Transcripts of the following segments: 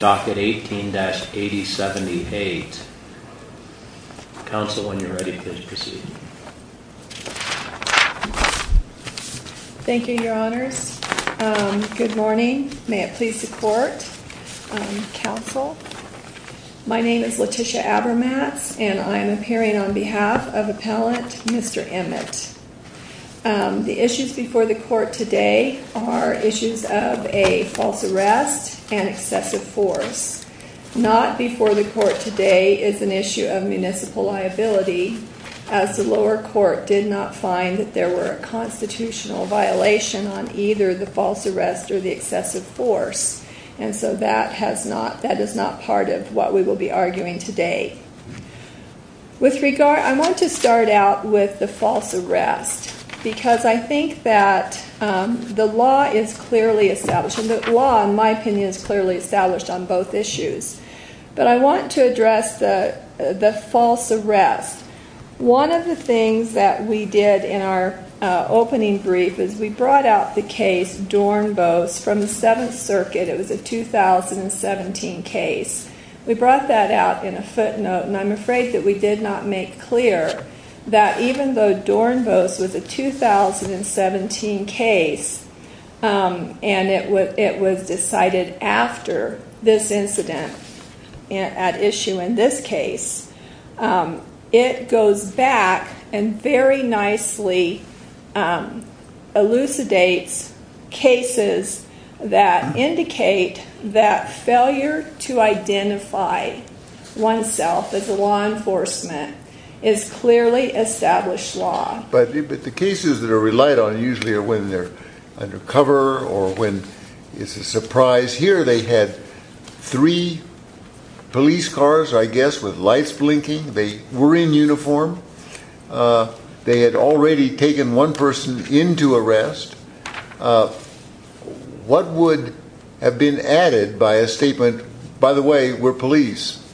Docket 18-8078, counsel when you're ready please proceed. Thank you your honors, good morning, may it please the court, counsel. My name is Letitia Abermatz and I am appearing on behalf of appellant Mr. Emmett. The issues before the court today are issues of a false arrest and excessive force. Not before the court today is an issue of municipal liability as the lower court did not find that there were a constitutional violation on either the false arrest or the excessive force and so that has not, that is not part of what we will be arguing today. With regard, I want to start out with the false arrest because I think that the law is clearly established and the law in my opinion is clearly established on both issues but I want to address the false arrest. One of the things that we did in our opening brief is we brought out the case Dornbos from the 7th circuit, it was a 2017 case. We brought that out in a footnote and I'm afraid that we did not make clear that even though Dornbos was a 2017 case and it was decided after this incident at issue in this But the cases that are relied on usually are when they're under cover or when it's a surprise. Here they had three police cars I guess with lights blinking. They were in uniform. They had already taken one person into arrest. What would have been added by a statement, by the way, we're police?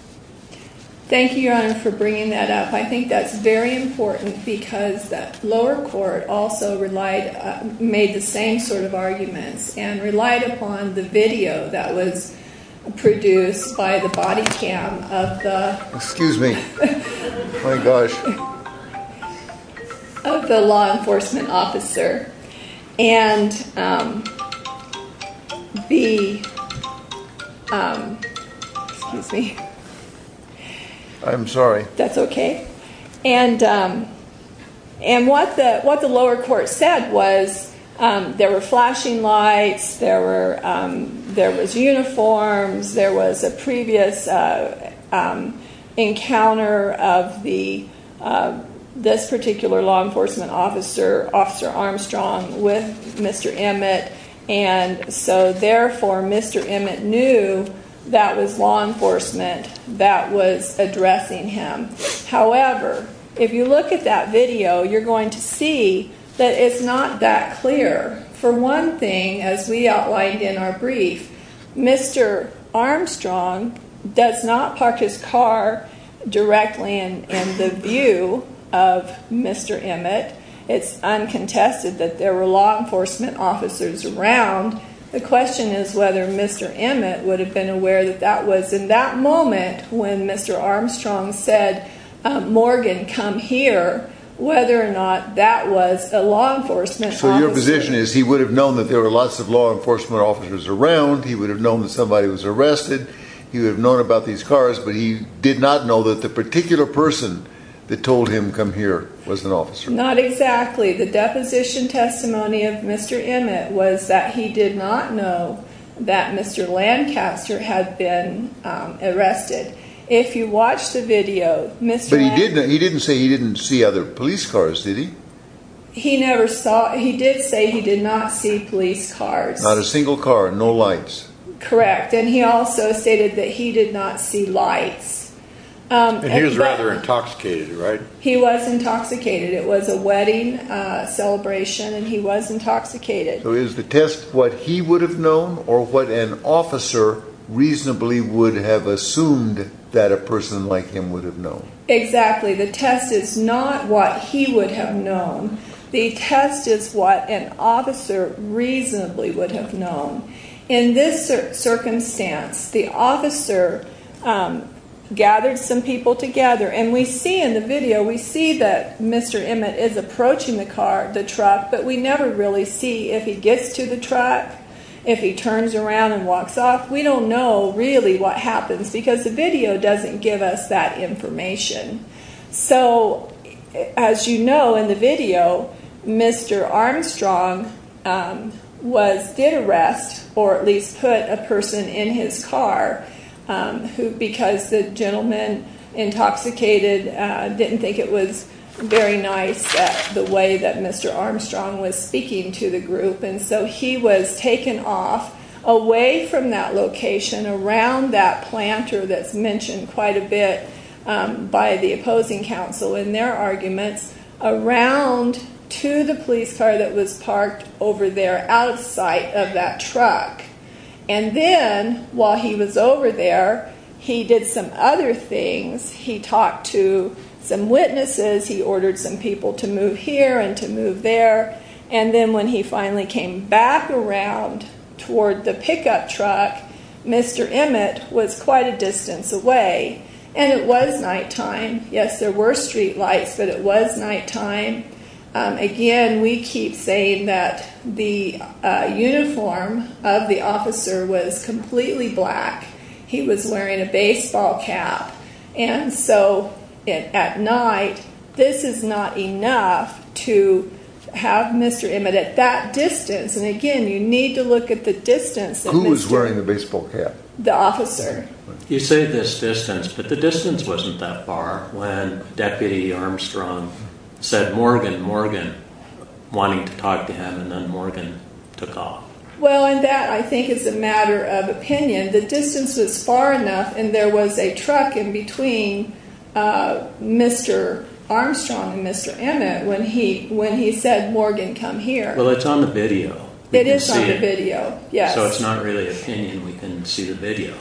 Thank you your honor for bringing that up. I think that's very important because the lower court also relied, made the same sort of arguments and relied upon the video that was produced by the body cam of the law enforcement officer and what the lower court said was there were flashing lights, there was uniforms, there was a previous encounter of this particular law enforcement officer, Officer Armstrong with Mr. Emmett and so therefore Mr. Emmett knew that was law enforcement that was addressing him. However, if you look at that video, you're going to see that it's not that clear. For one thing, as we outlined in our brief, Mr. Armstrong does not park his car directly in the view of Mr. Emmett. It's uncontested that there were law enforcement officers around. The question is whether Mr. Emmett would have been aware that that was in that moment when Mr. Armstrong said, Morgan come here, whether or not that was a law enforcement officer. So your position is he would have known that there were lots of law enforcement officers around. He would have known that somebody was arrested. He would have known about these cars, but he did not know that the particular person that told him, come here, was an officer. Not exactly. The deposition testimony of Mr. Emmett was that he did not know that Mr. Lancaster had been arrested. If you watch the video, Mr. Lancaster- But he didn't say he didn't see other police cars, did he? He never saw. He did say he did not see police cars. Not a single car. No lights. Correct. Correct. And he also stated that he did not see lights. And he was rather intoxicated, right? He was intoxicated. It was a wedding celebration and he was intoxicated. So is the test what he would have known or what an officer reasonably would have assumed that a person like him would have known? Exactly. The test is not what he would have known. The test is what an officer reasonably would have known. In this circumstance, the officer gathered some people together and we see in the video, we see that Mr. Emmett is approaching the car, the truck, but we never really see if he gets to the truck, if he turns around and walks off. We don't know really what happens because the video doesn't give us that information. So as you know in the video, Mr. Armstrong was, did arrest or at least put a person in his car because the gentleman intoxicated didn't think it was very nice the way that Mr. Armstrong was speaking to the group. And so he was taken off away from that location around that planter that's mentioned quite a bit by the opposing council in their arguments around to the police car that was parked over there outside of that truck. And then while he was over there, he did some other things. He talked to some witnesses. He ordered some people to move here and to move there. And then when he finally came back around toward the pickup truck, Mr. Emmett was quite a distance away and it was nighttime. Yes, there were street lights, but it was nighttime. Again, we keep saying that the uniform of the officer was completely black. He was wearing a baseball cap. And so at night, this is not enough to have Mr. Emmett at that distance. And again, you need to look at the distance. Who was wearing the baseball cap? The officer. You say this distance, but the distance wasn't that far when Deputy Armstrong said, Morgan, Morgan, wanting to talk to him and then Morgan took off. Well, and that I think is a matter of opinion. The distance was far enough and there was a truck in between Mr. Armstrong and Mr. Emmett when he said, Morgan, come here. Well, it's on the video. It is on the video, yes. So it's not really opinion, we can see the video.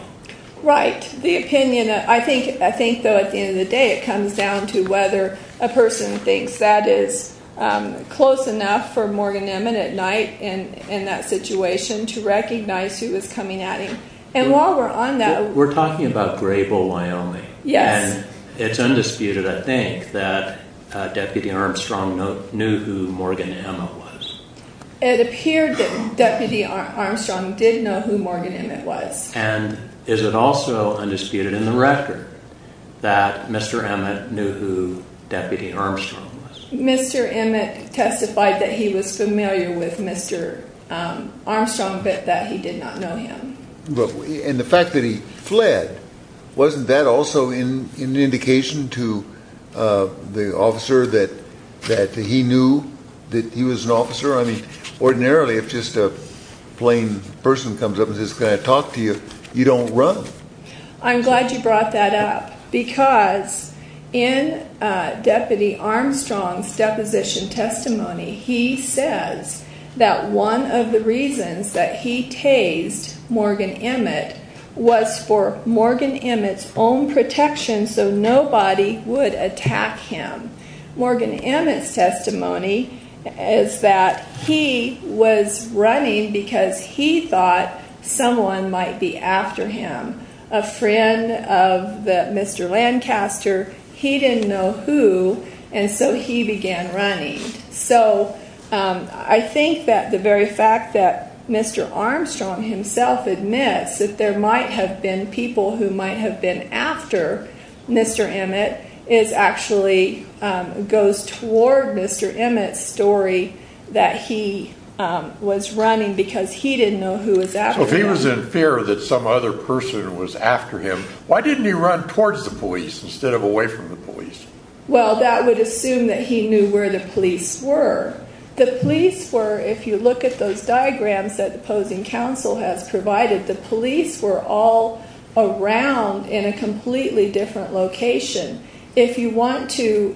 Right. The opinion, I think though at the end of the day, it comes down to whether a person thinks that is close enough for Morgan Emmett at night in that situation to recognize who was coming at him. And while we're on that- We're talking about Grey Bull, Wyoming. Yes. And it's undisputed, I think, that Deputy Armstrong knew who Morgan Emmett was. It appeared that Deputy Armstrong did know who Morgan Emmett was. And is it also undisputed in the record that Mr. Emmett knew who Deputy Armstrong was? Mr. Emmett testified that he was familiar with Mr. Armstrong, but that he did not know him. And the fact that he fled, wasn't that also an indication to the officer that he knew that he was an officer? I mean, ordinarily, if just a plain person comes up and says, can I talk to you, you don't run. I'm glad you brought that up because in Deputy Armstrong's deposition testimony, he says that one of the reasons that he tased Morgan Emmett was for Morgan Emmett's own protection so nobody would attack him. Morgan Emmett's testimony is that he was running because he thought someone might be after him. A friend of Mr. Lancaster, he didn't know who, and so he began running. So I think that the very fact that Mr. Armstrong himself admits that there might have been people who might have been after Mr. Emmett is actually, goes toward Mr. Emmett's story that he was running because he didn't know who was after him. So if he was in fear that some other person was after him, why didn't he run towards the police instead of away from the police? Well that would assume that he knew where the police were. The police were, if you look at those diagrams that the opposing counsel has provided, the police are around in a completely different location. If you want to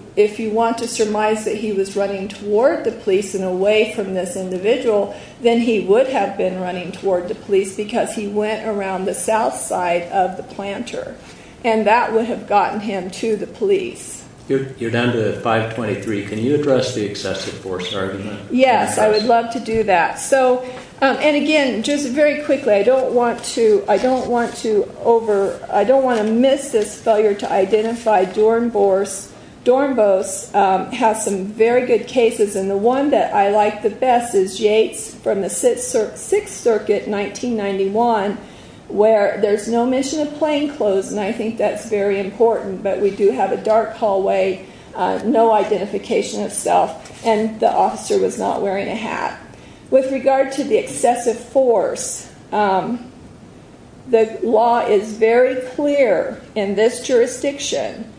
surmise that he was running toward the police and away from this individual, then he would have been running toward the police because he went around the south side of the planter and that would have gotten him to the police. You're down to 5.23, can you address the excessive force argument? Yes, I would love to do that. So, and again, just very quickly, I don't want to miss this failure to identify Dornbos. Dornbos has some very good cases and the one that I like the best is Yates from the 6th Circuit, 1991, where there's no mention of plainclothes and I think that's very important, but we do have a dark hallway, no identification itself, and the officer was not wearing a hat. With regard to the excessive force, the law is very clear in this jurisdiction.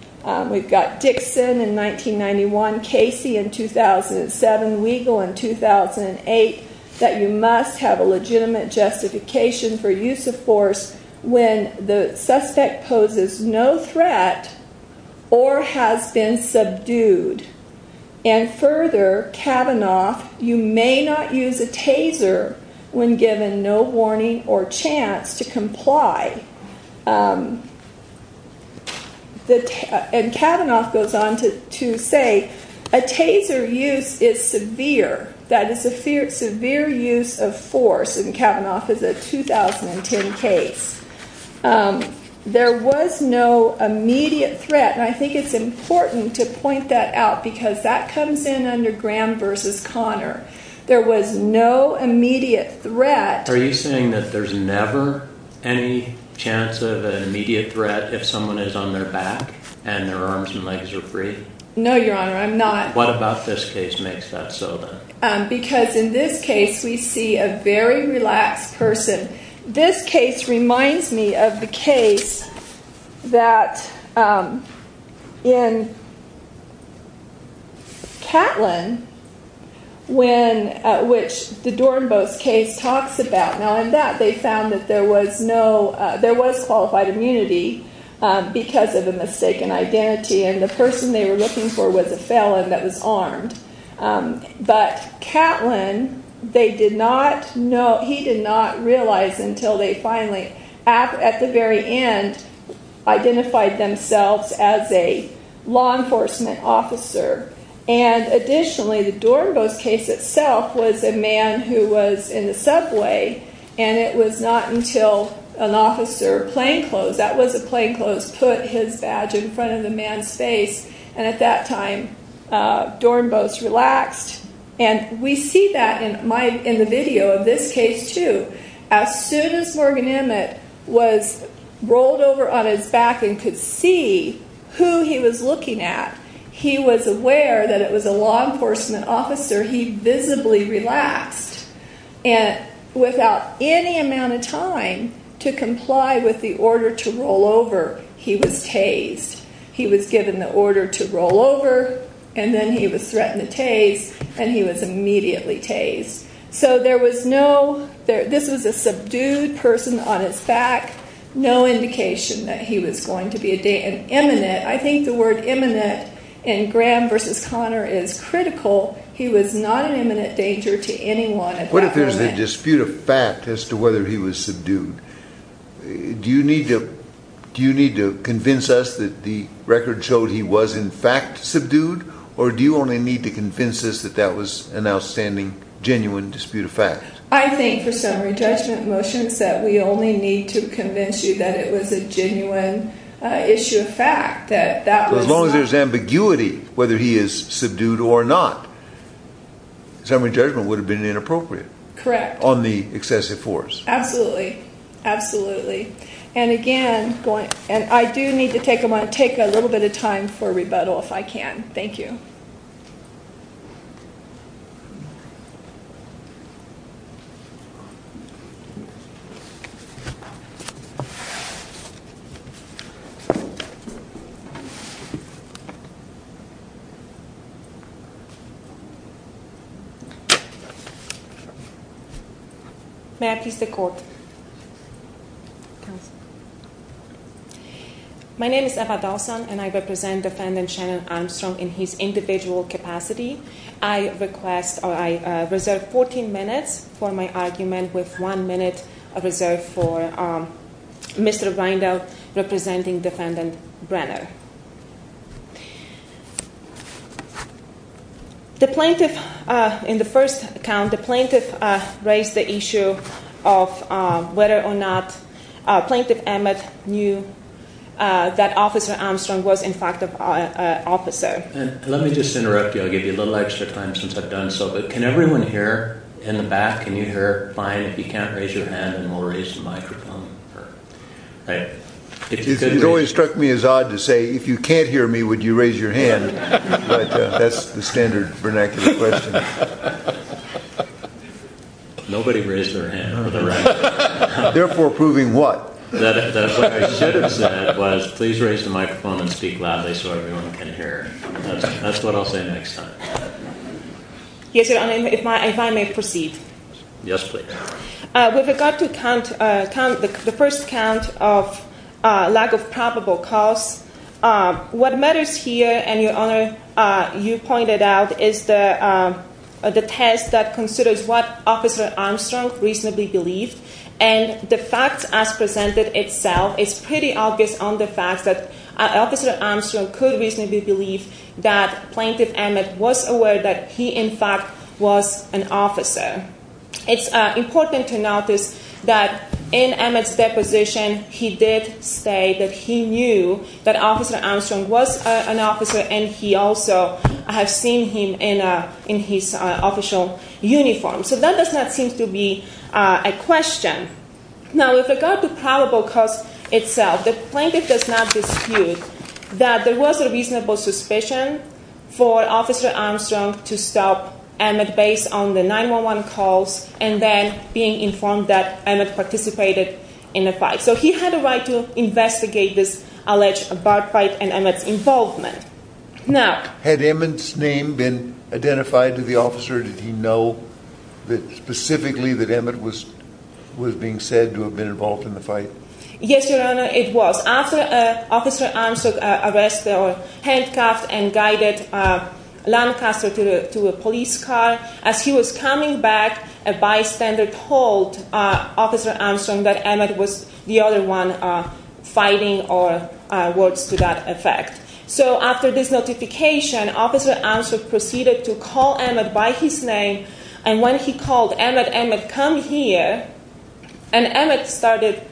We've got Dixon in 1991, Casey in 2007, Weigel in 2008, that you must have a legitimate justification for use of force when the suspect poses no threat or has been subdued. And further, Kavanaugh, you may not use a taser when given no warning or chance to comply. And Kavanaugh goes on to say, a taser use is severe. That is a severe use of force in Kavanaugh's 2010 case. There was no immediate threat, and I think it's important to point that out because that comes in under Graham v. Conner. There was no immediate threat. Are you saying that there's never any chance of an immediate threat if someone is on their back and their arms and legs are free? No, Your Honor, I'm not. What about this case makes that so, then? Because in this case, we see a very relaxed person. This case reminds me of the case that in Catlin, which the Dornbos case talks about. Now, in that, they found that there was qualified immunity because of a mistaken identity, and the person they were looking for was a felon that was armed. But Catlin, they did not know, he did not realize until they finally, at the very end, identified themselves as a law enforcement officer. And additionally, the Dornbos case itself was a man who was in the subway, and it was not until an officer, plainclothes, that was a plainclothes, put his badge in front of the man's face, and at that time, Dornbos relaxed. And we see that in the video of this case, too. As soon as Morgan Emmett was rolled over on his back and could see who he was looking at, he was aware that it was a law enforcement officer, he visibly relaxed. And without any amount of time to comply with the order to roll over, he was tased. He was given the order to roll over, and then he was threatened to tase, and he was immediately tased. So there was no, this was a subdued person on his back, no indication that he was going to be an imminent, I think the word imminent in Graham versus Connor is critical, he was not an imminent danger to anyone at that moment. What if there's a dispute of fact as to whether he was subdued? Do you need to convince us that the record showed he was in fact subdued, or do you only need to convince us that that was an outstanding, genuine dispute of fact? I think for summary judgment motions that we only need to convince you that it was a genuine issue of fact. As long as there's ambiguity whether he is subdued or not, summary judgment would have been inappropriate. Correct. On the excessive force. Absolutely. Absolutely. And again, I do need to take a little bit of time for rebuttal if I can. Thank you. May I please take the court? My name is Eva Dawson and I represent Defendant Shannon Armstrong in his individual capacity. I request, or I reserve 14 minutes for my argument with one minute reserved for Mr. Reindell representing Defendant Brenner. The plaintiff, in the first count, the plaintiff raised the issue of whether or not Plaintiff Emmett knew that Officer Armstrong was in fact an officer. Let me just interrupt you. I'll give you a little extra time since I've done so, but can everyone here in the back, can you hear? Fine. If you can't, raise your hand and we'll raise the microphone. It always struck me as odd to say, if you can't hear me, would you raise your hand? But that's the standard vernacular question. Nobody raised their hand. Therefore, proving what? That's what I should have said, was please raise the microphone and speak loudly so everyone can hear. That's what I'll say next time. Yes, Your Honor, if I may proceed. Yes, please. With regard to the first count of lack of probable cause, what matters here, and Your Honor, you pointed out, is the test that considers what Officer Armstrong reasonably believed, and the facts as presented itself, it's pretty obvious on the facts that Officer Armstrong could reasonably believe that Plaintiff Emmett was aware that he, in fact, was an officer. It's important to notice that in Emmett's deposition, he did state that he knew that Officer Armstrong was an officer, and he also has seen him in his official uniform. So that does not seem to be a question. Now, with regard to probable cause itself, the plaintiff does not dispute that there and then being informed that Emmett participated in the fight. So he had a right to investigate this alleged bar fight and Emmett's involvement. Now... Had Emmett's name been identified to the officer? Did he know specifically that Emmett was being said to have been involved in the fight? Yes, Your Honor, it was. After Officer Armstrong arrested or handcuffed and guided Lancaster to a police car, as he was coming back, a bystander told Officer Armstrong that Emmett was the other one fighting or words to that effect. So after this notification, Officer Armstrong proceeded to call Emmett by his name, and when he called Emmett, Emmett, come here, and Emmett started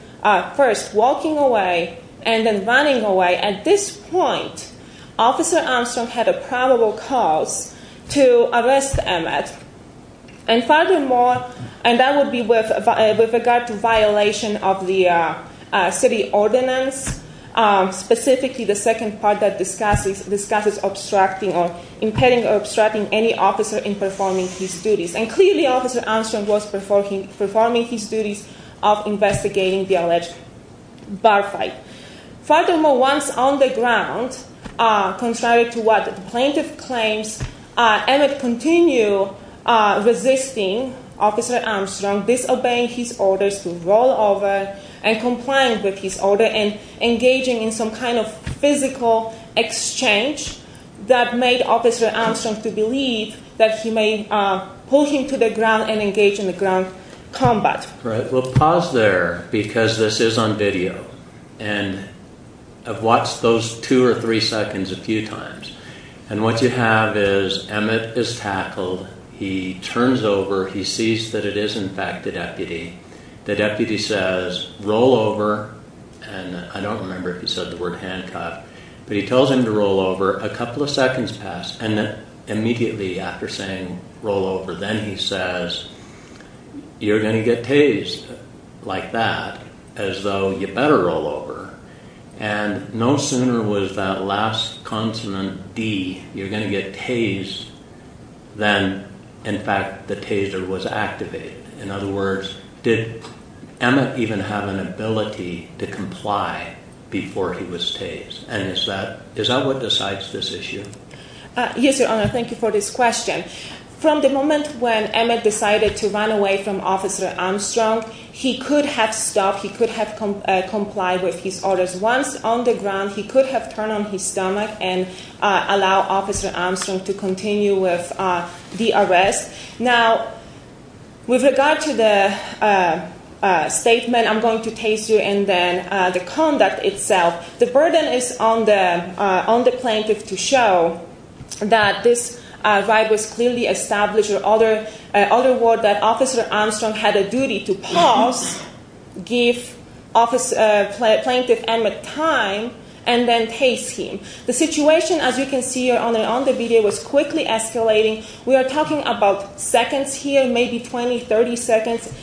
first walking away and then running away. At this point, Officer Armstrong had a probable cause to arrest Emmett. And furthermore, and that would be with regard to violation of the city ordinance, specifically the second part that discusses obstructing or impeding or obstructing any officer in performing his duties. And clearly, Officer Armstrong was performing his duties of investigating the alleged bar fight. Furthermore, once on the ground, contrary to what the plaintiff claims, Emmett continued resisting Officer Armstrong, disobeying his orders to roll over and complying with his order and engaging in some kind of physical exchange that made Officer Armstrong to believe that he may pull him to the ground and engage in the ground combat. Right, well pause there, because this is on video. And I've watched those two or three seconds a few times. And what you have is Emmett is tackled, he turns over, he sees that it is in fact the deputy. The deputy says, roll over, and I don't remember if he said the word handcuff, but he tells him to roll over. A couple of seconds pass, and immediately after saying roll over, then he says, you're going to get tased like that, as though you better roll over. And no sooner was that last consonant D, you're going to get tased than in fact the taser was activated. In other words, did Emmett even have an ability to comply before he was tased? And is that what decides this issue? Yes, Your Honor, thank you for this question. From the moment when Emmett decided to run away from Officer Armstrong, he could have stopped, he could have complied with his orders. Once on the ground, he could have turned on his stomach and allowed Officer Armstrong to continue with the arrest. Now, with regard to the statement, I'm going to tase you, and then the conduct itself. The burden is on the plaintiff to show that this right was clearly established. In other words, that Officer Armstrong had a duty to pause, give Plaintiff Emmett time, and then tase him. The situation, as you can see, Your Honor, on the video, was quickly escalating. We are talking about seconds here, maybe 20, 30 seconds.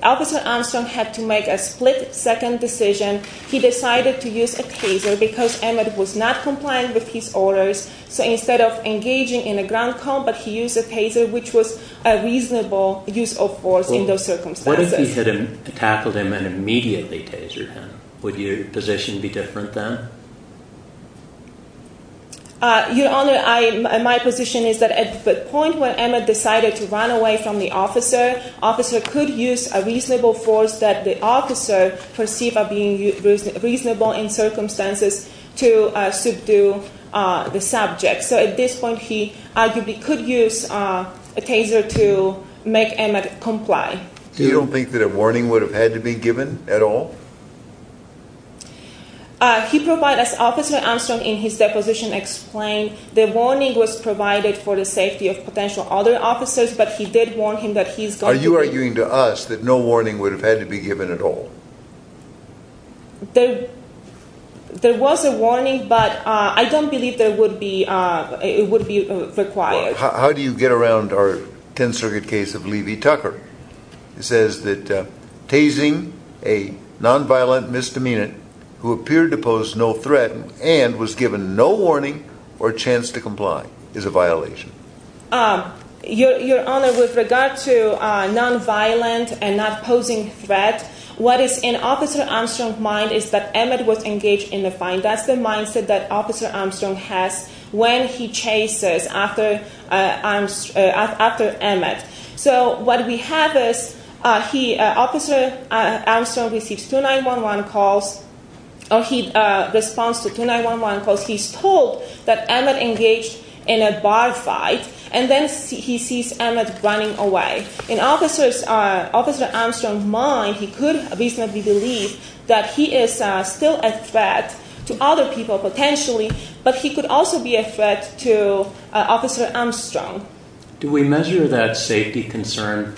Officer Armstrong had to make a split-second decision. He decided to use a taser because Emmett was not compliant with his orders. So instead of engaging in a ground combat, he used a taser, which was a reasonable use of force in those circumstances. What if he had tackled him and immediately tasered him? Would your position be different then? Your Honor, my position is that at the point when Emmett decided to run away from the officer, officer could use a reasonable force that the officer perceived as being reasonable in circumstances to subdue the subject. So at this point, he arguably could use a taser to make Emmett comply. You don't think that a warning would have had to be given at all? He provided, as Officer Armstrong in his deposition explained, the warning was provided for the safety of potential other officers, but he did warn him that he's going to be... Are you arguing to us that no warning would have had to be given at all? There was a warning, but I don't believe it would be required. How do you get around our Tenth Circuit case of Levy-Tucker? It says that tasing a nonviolent misdemeanant who appeared to pose no threat and was given no warning or chance to comply is a violation. Your Honor, with regard to nonviolent and not posing threat, what is in Officer Armstrong's mind is that Emmett was engaged in the fight. That's the mindset that Officer Armstrong has when he chases after Emmett. So what we have is Officer Armstrong receives 2911 calls or he responds to 2911 calls. He's told that Emmett engaged in a bar fight, and then he sees Emmett running away. In Officer Armstrong's mind, he could reasonably believe that he is still a threat to other people potentially, but he could also be a threat to Officer Armstrong. Do we measure that safety concern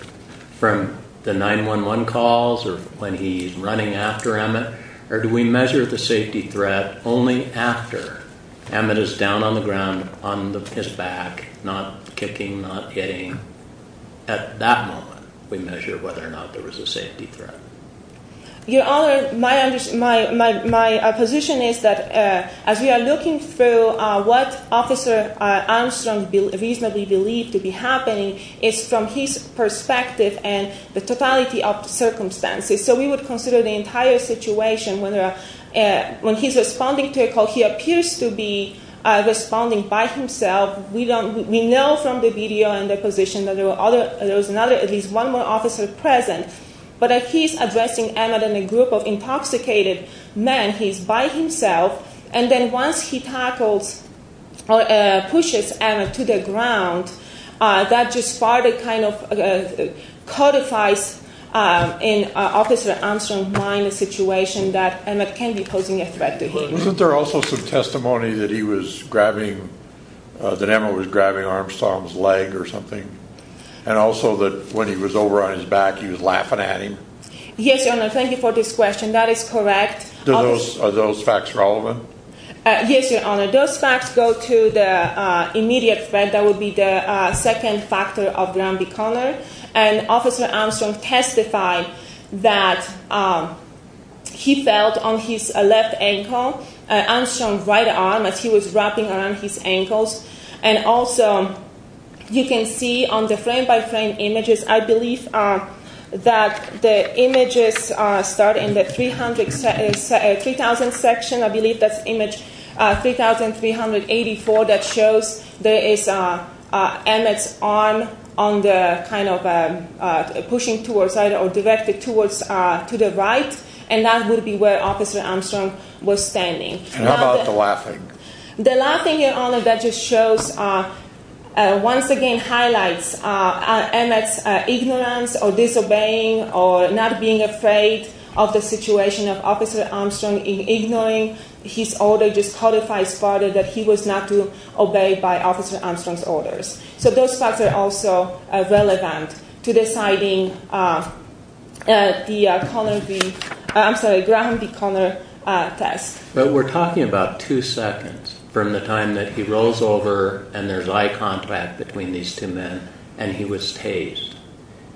from the 911 calls or when he's running after Emmett, or do we measure the safety threat only after Emmett is down on the ground on his back, not kicking, not hitting? At that moment, we measure whether or not there was a safety threat. Your Honor, my position is that as we are looking through what Officer Armstrong reasonably believed to be happening, it's from his perspective and the totality of circumstances. So we would consider the entire situation. When he's responding to a call, he appears to be responding by himself. We know from the video and the position that there was at least one more officer present, but he's addressing Emmett in a group of intoxicated men. He's by himself, and then once he tackles or pushes Emmett to the ground, that just partly kind of codifies in Officer Armstrong's mind the situation that Emmett can be posing a threat to him. Wasn't there also some testimony that Emmett was grabbing Armstrong's leg or something, and also that when he was over on his back, he was laughing at him? Yes, Your Honor. Thank you for this question. That is correct. Are those facts relevant? Yes, Your Honor. Those facts go to the immediate threat. That would be the second factor of Granby Connor, and Officer Armstrong testified that he felt on his left ankle, Armstrong's right arm as he was wrapping around his ankles, and also you can see on the frame-by-frame images, I believe that the images start in the 3,000 section. I believe that's image 3,384 that shows there is Emmett's arm on the kind of pushing towards, or directed towards to the right, and that would be where Officer Armstrong was standing. How about the laughing? The laughing, Your Honor, that just shows, once again highlights Emmett's ignorance or disobeying or not being afraid of the situation of Officer Armstrong in ignoring his order, just codifies further that he was not to obey by Officer Armstrong's orders. So those facts are also relevant to deciding the Granby Connor test. But we're talking about two seconds from the time that he rolls over and there's eye contact between these two men and he was tased.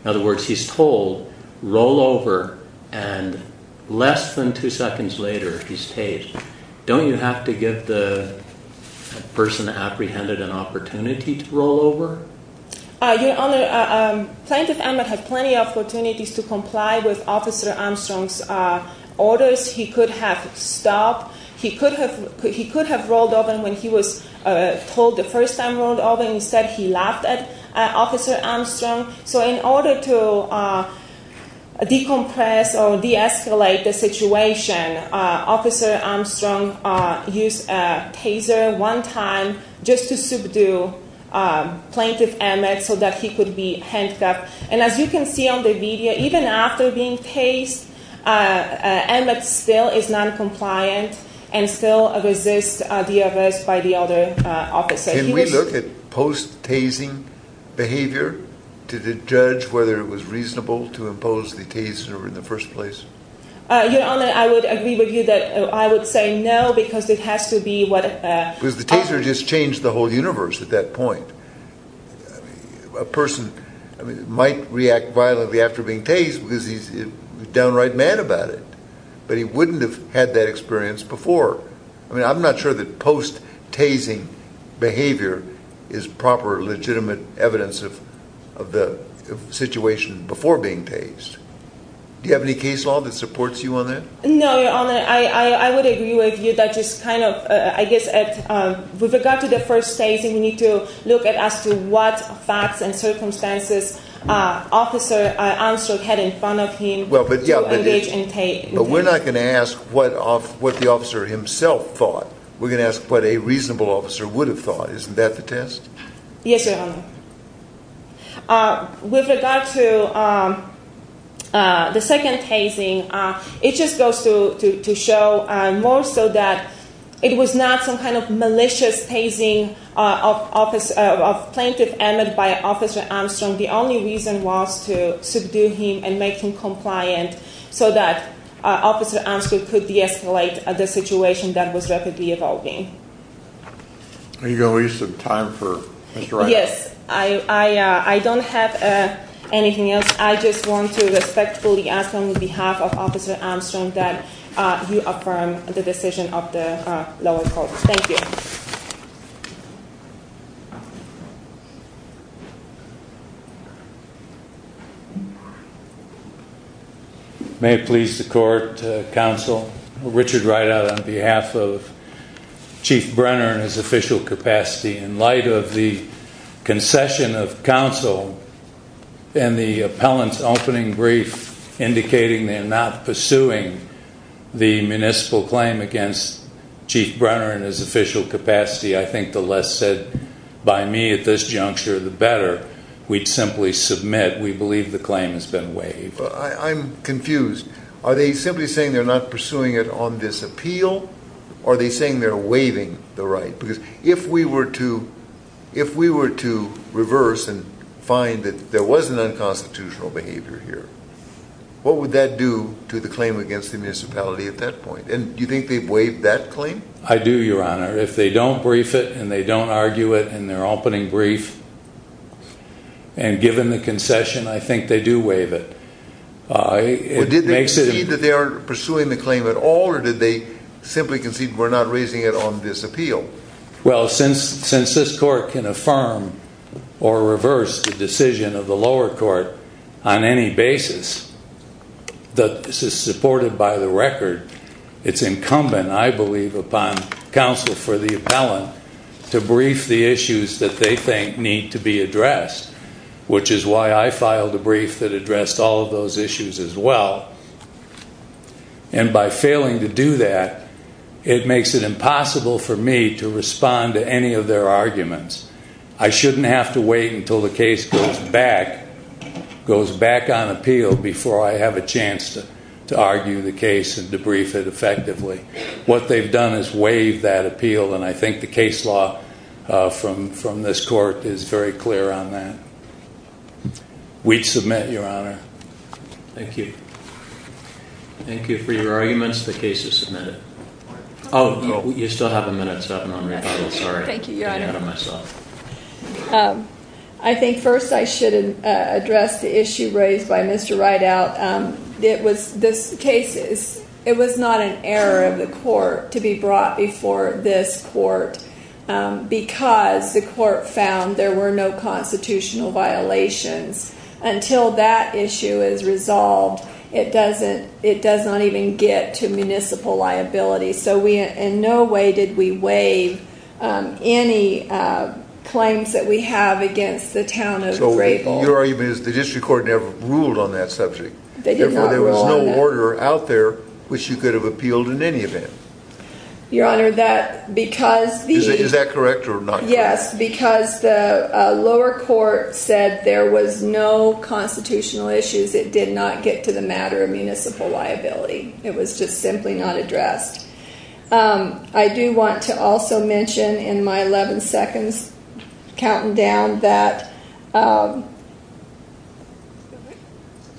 In other words, he's told, roll over, and less than two seconds later he's tased. Don't you have to give the person apprehended an opportunity to roll over? Your Honor, plaintiff Emmett had plenty of opportunities to comply with Officer Armstrong's orders. He could have stopped, he could have rolled over when he was told the first time, rolled over and he said he laughed at Officer Armstrong. So in order to decompress or de-escalate the situation, Officer Armstrong used a taser one time just to subdue Plaintiff Emmett so that he could be handcuffed. And as you can see on the video, even after being tased, Emmett still is noncompliant and still resists the arrest by the other officers. Can we look at post-tasing behavior to judge whether it was reasonable to impose the taser in the first place? Your Honor, I would agree with you that I would say no because it has to be what... Because the taser just changed the whole universe at that point. A person might react violently after being tased because he's a downright man about it, but he wouldn't have had that experience before. I mean, I'm not sure that post-tasing behavior is proper legitimate evidence of the situation before being tased. Do you have any case law that supports you on that? No, Your Honor, I would agree with you that just kind of, I guess, with regard to the first tasing, we need to look at as to what facts and circumstances Officer Armstrong had in front of him. But we're not going to ask what the officer himself thought. We're going to ask what a reasonable officer would have thought. Isn't that the test? Yes, Your Honor. With regard to the second tasing, it just goes to show more so that it was not some kind of malicious tasing of Plaintiff Emmett by Officer Armstrong. The only reason was to subdue him and make him compliant so that Officer Armstrong could de-escalate the situation that was rapidly evolving. Are you going to leave some time for Mr. Wright? Yes, I don't have anything else. I just want to respectfully ask on behalf of Officer Armstrong that you affirm the decision of the lower court. Thank you. May it please the Court, Counsel, Richard Wright out on behalf of Chief Brenner in his official capacity. In light of the concession of counsel and the appellant's opening brief indicating they're not pursuing the municipal claim against Chief Brenner in his official capacity, I think the less said by me at this juncture, the better. We'd simply submit we believe the claim has been waived. I'm confused. Are they simply saying they're not pursuing it on this appeal, or are they saying they're waiving the right? Because if we were to reverse and find that there was an unconstitutional behavior here, what would that do to the claim against the municipality at that point? Do you think they've waived that claim? I do, Your Honor. If they don't brief it and they don't argue it in their opening brief, and given the concession, I think they do waive it. Did they concede that they are pursuing the claim at all, or did they simply concede we're not raising it on this appeal? Well, since this court can affirm or reverse the decision of the lower court on any basis that is supported by the record, it's incumbent, I believe, upon counsel for the appellant to brief the issues that they think need to be addressed, which is why I filed a brief that addressed all of those issues as well. And by failing to do that, it makes it impossible for me to respond to any of their arguments. I shouldn't have to wait until the case goes back on appeal before I have a chance to argue the case and debrief it effectively. What they've done is waive that appeal, and I think the case law from this court is very clear on that. We'd submit, Your Honor. Thank you. Thank you for your arguments. The case is submitted. Oh, you still have a minute, sorry. Thank you, Your Honor. I think first I should address the issue raised by Mr. Rideout. It was not an error of the court to be brought before this court because the court found there were no constitutional violations. Until that issue is resolved, it does not even get to municipal liability, so in no way did we waive any claims that we have against the town of Grayball. Your argument is the district court never ruled on that subject. They did not rule on it. Therefore, there was no order out there which you could have appealed in any event. Your Honor, that because the— Is that correct or not correct? Yes, because the lower court said there was no constitutional issues. It did not get to the matter of municipal liability. It was just simply not addressed. I do want to also mention in my 11 seconds, counting down, that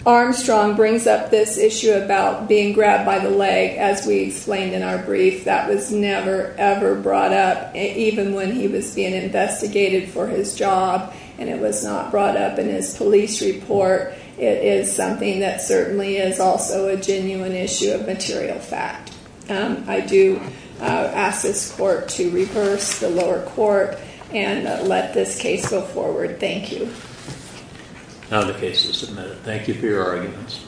Armstrong brings up this issue about being grabbed by the leg. As we explained in our brief, that was never, ever brought up, even when he was being investigated for his job and it was not brought up in his police report. It is something that certainly is also a genuine issue of material fact. I do ask this court to reverse the lower court and let this case go forward. Thank you. The case is submitted. Thank you for your arguments.